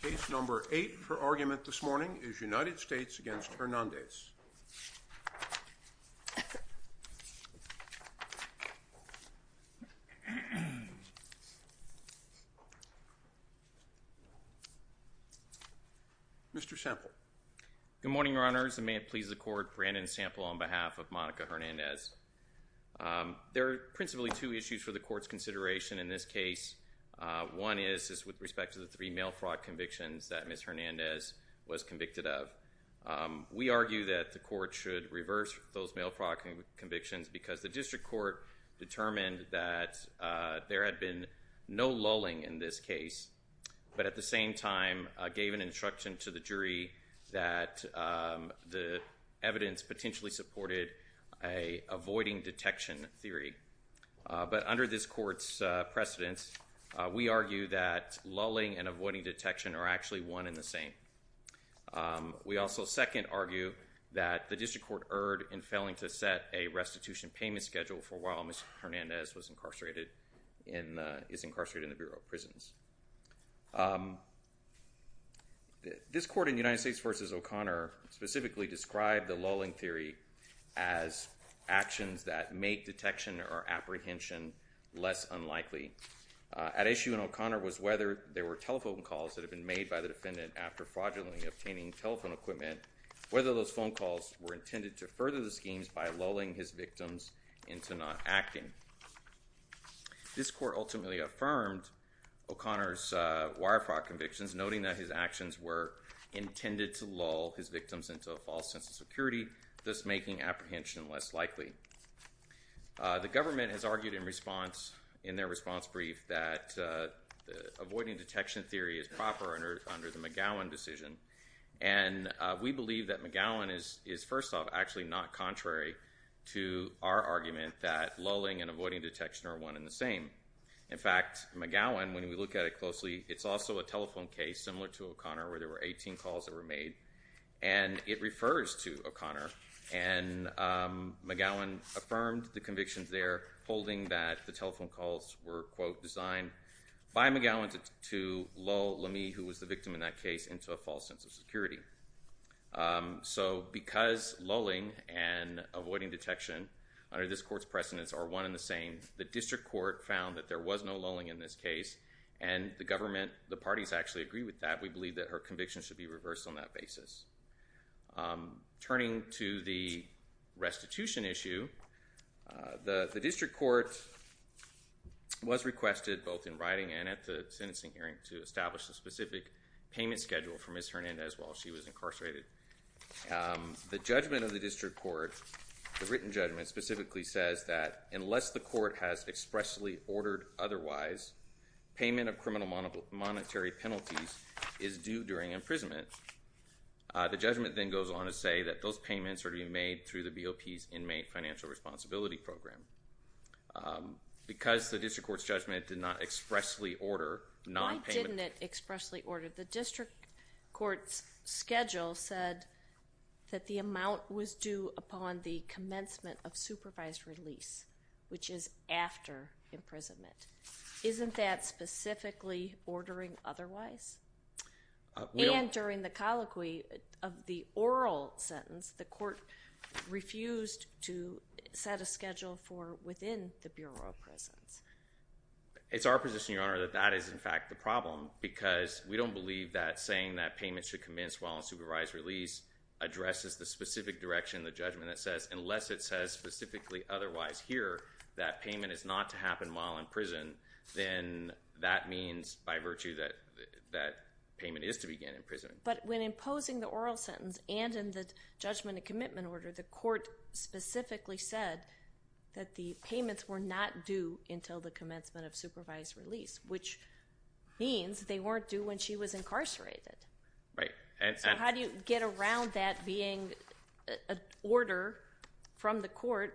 Case number eight for argument this morning is United States v. Hernandez. Mr. Sample. Good morning, Your Honors, and may it please the Court, Brandon Sample on behalf of Monica Hernandez. There are principally two issues for the Court's consideration in this case. One is with respect to the three mail fraud convictions that Ms. Hernandez was convicted of. We argue that the Court should reverse those mail fraud convictions because the District Court determined that there had been no lulling in this case, but at the same time gave an instruction to the jury that the evidence potentially supported an avoiding detection theory. But under this Court's precedence, we argue that lulling and avoiding detection are actually one and the same. We also second argue that the District Court erred in failing to set a restitution payment schedule for while Ms. Hernandez was incarcerated in the Bureau of Prisons. This Court in United States v. O'Connor specifically described the lulling theory as actions that make detection or apprehension less unlikely. At issue in O'Connor was whether there were telephone calls that had been made by the defendant after fraudulently obtaining telephone equipment, whether those phone calls were intended to further the schemes by lulling his victims into not acting. This Court ultimately affirmed O'Connor's wire fraud convictions, noting that his actions were intended to lull his victims into a false sense of security, thus making apprehension less likely. The government has argued in their response brief that avoiding detection theory is proper under the McGowan decision. We believe that McGowan is, first off, actually not contrary to our argument that lulling and avoiding detection are one and the same. In fact, McGowan, when we look at it closely, it's also a telephone case similar to O'Connor where there were 18 calls that were made, and it refers to O'Connor. McGowan affirmed the convictions there, holding that the telephone calls were quote, designed by McGowan to lull Lamy, who was the victim in that case, into a false sense of security. So because lulling and avoiding detection under this Court's precedence are one and the same, the District Court found that there was no lulling in this case, and the parties actually agree with that. We believe that her convictions should be reversed on that basis. Turning to the restitution issue, the District Court was requested, both in writing and at the sentencing hearing, to establish a specific payment schedule for Ms. Hernandez while she was incarcerated. The judgment of the District Court, the written judgment, specifically says that unless the court has expressly ordered otherwise, payment of criminal monetary penalties is due during imprisonment. The judgment then goes on to say that those payments are to be made through the BOP's inmate financial responsibility program. Because the District Court's judgment did not expressly order nonpayment... Why didn't it expressly order? The District Court's schedule said that the amount was due upon the commencement of supervised release, which is after imprisonment. Isn't that specifically ordering otherwise? And during the colloquy of the oral sentence, the Court refused to set a schedule for within the Bureau of Prisons. It's our position, Your Honor, that that is in fact the problem, because we don't believe that saying that payment should commence while in supervised release addresses the specific direction of the judgment that says, unless it says specifically otherwise here, that payment is not to happen while in prison, then that means, by virtue, that that payment is to begin in prison. But when imposing the oral sentence and in the judgment of commitment order, the Court specifically said that the payments were not due until the commencement of supervised release, which means they weren't due when she was incarcerated. Right. So how do you get around that being an order from the Court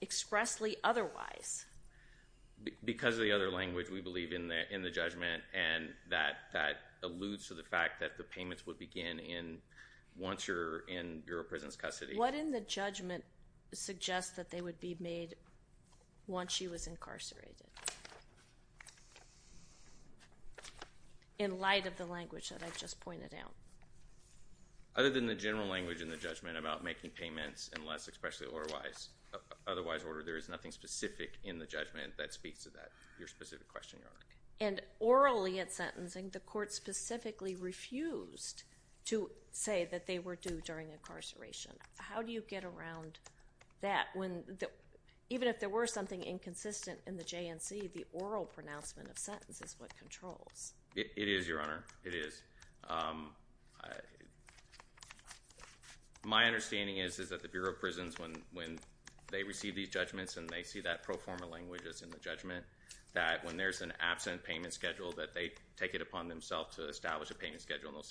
expressly otherwise? Because of the other language we believe in the judgment, and that alludes to the fact that the payments would begin once you're in Bureau of Prisons custody. What in the judgment suggests that they would be made once she was incarcerated? In light of the language that I just pointed out. Other than the general language in the judgment about making payments unless expressly otherwise ordered, there is nothing specific in the judgment that speaks to that, your specific question, Your Honor. And orally at sentencing, the Court specifically refused to say that they were due during incarceration. How do you get around that? Even if there were something inconsistent in the JNC, the oral pronouncement of sentence is what controls. It is, Your Honor. It is. My understanding is that the Bureau of Prisons, when they receive these judgments and they see that pro forma language that's in the judgment, that when there's an absent payment schedule, that they take it upon themselves to establish a payment schedule in those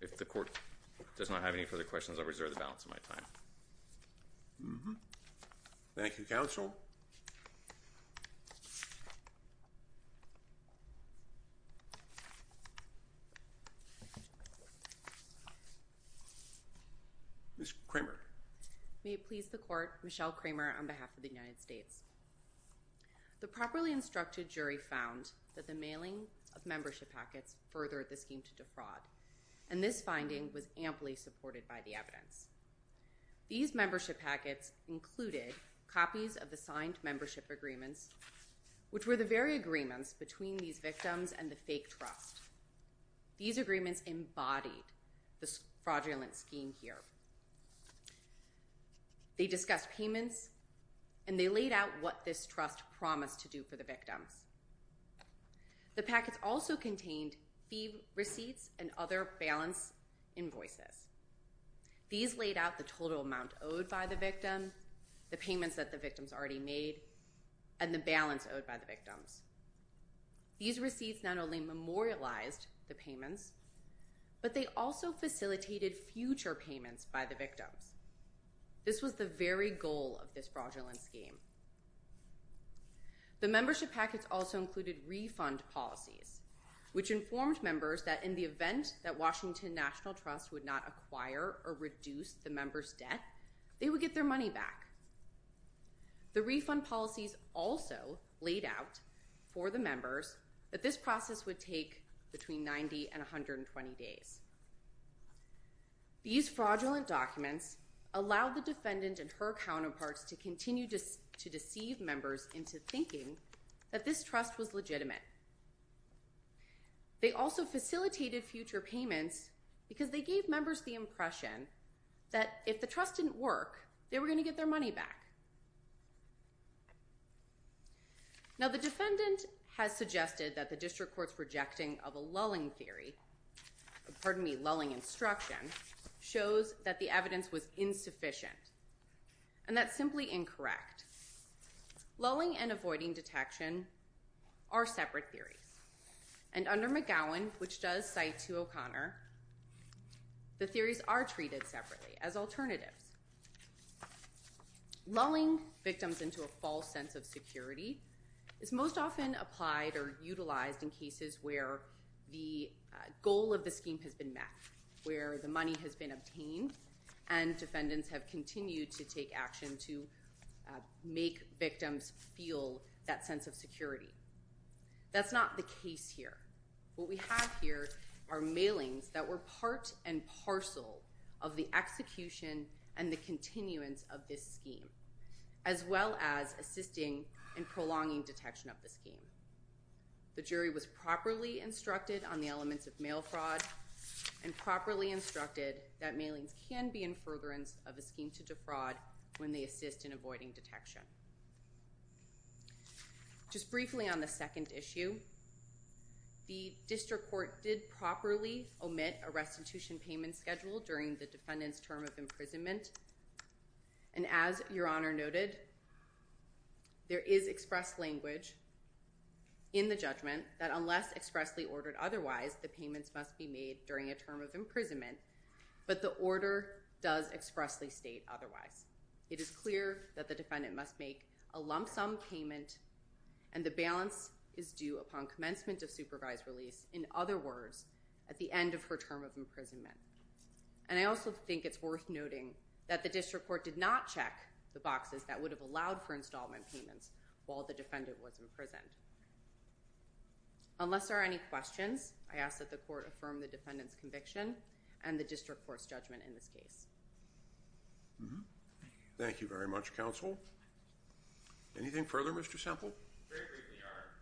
If the Court does not have any further questions, I'll reserve the balance of my time. Thank you, Counsel. Ms. Kramer. May it please the Court, Michelle Kramer on behalf of the United States. The properly instructed jury found that the mailing of membership packets further the scheme to defraud. And this finding was amply supported by the evidence. These membership packets included copies of the signed membership agreements, which were the very agreements between these victims and the fake trust. These agreements embodied the fraudulent scheme here. They discussed payments and they laid out what this promise to do for the victims. The packets also contained receipts and other balance invoices. These laid out the total amount owed by the victim, the payments that the victims already made, and the balance owed by the victims. These receipts not only memorialized the payments, but they also facilitated future payments by the victims. This was the very goal of this fraudulent scheme. The membership packets also included refund policies, which informed members that in the event that Washington National Trust would not acquire or reduce the members debt, they would get their money back. The refund policies also laid out for the members that this process would take between 90 and 50 years. These refund policies allowed the defendant and her counterparts to continue to deceive members into thinking that this trust was legitimate. They also facilitated future payments because they gave members the impression that if the trust didn't work, they were going to get their money back. Now the defendant has suggested that the district court's rejecting of a scheme is insufficient, and that's simply incorrect. Lulling and avoiding detection are separate theories, and under McGowan, which does cite to O'Connor, the theories are treated separately as alternatives. Lulling victims into a false sense of security is most often applied or utilized in cases where the money has been obtained and defendants have continued to take action to make victims feel that sense of security. That's not the case here. What we have here are mailings that were part and parcel of the execution and the continuance of this scheme, as well as assisting in prolonging detection of the scheme. The jury was properly instructed on the elements of mail fraud and properly instructed that mailings can be in furtherance of a scheme to defraud when they assist in avoiding detection. Just briefly on the second issue, the district court did properly omit a restitution payment schedule during the defendant's term of imprisonment, and as Your Honor noted, there is express language in the judgment that unless expressly ordered otherwise, the payments must be made during a term of imprisonment, but the order does expressly state otherwise. It is clear that the defendant must make a lump sum payment, and the balance is due upon commencement of supervised release, in other words, at the end of her term of imprisonment, the boxes that would have allowed for installment payments while the defendant was imprisoned. Unless there are any questions, I ask that the court affirm the defendant's conviction and the district court's judgment in this case. Thank you very much, Counsel. Anything further, Mr. Semple? Very briefly, Your Honor.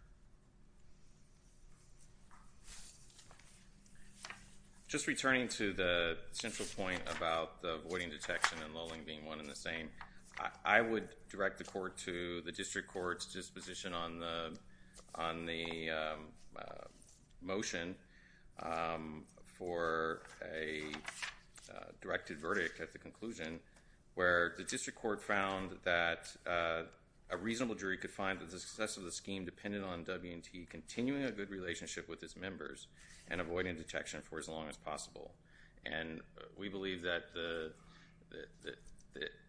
Just returning to the central point about avoiding detection and lulling being one and the same, I would direct the court to the district court's disposition on the motion for a directed verdict at the conclusion, where the district court found that a reasonable jury could find that the success of the scheme depended on W&T continuing a good relationship with its members and avoiding detection for as long as possible, and we believe that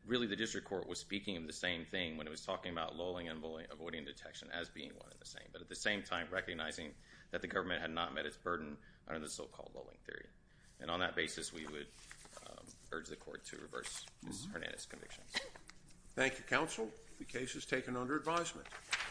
really the district court was speaking of the same thing when it was talking about lulling and avoiding detection as being one and the same, but at the same time recognizing that the government had not met its burden under the so-called lulling theory. And on that basis, we would urge the court to reverse Ms. Hernandez's convictions.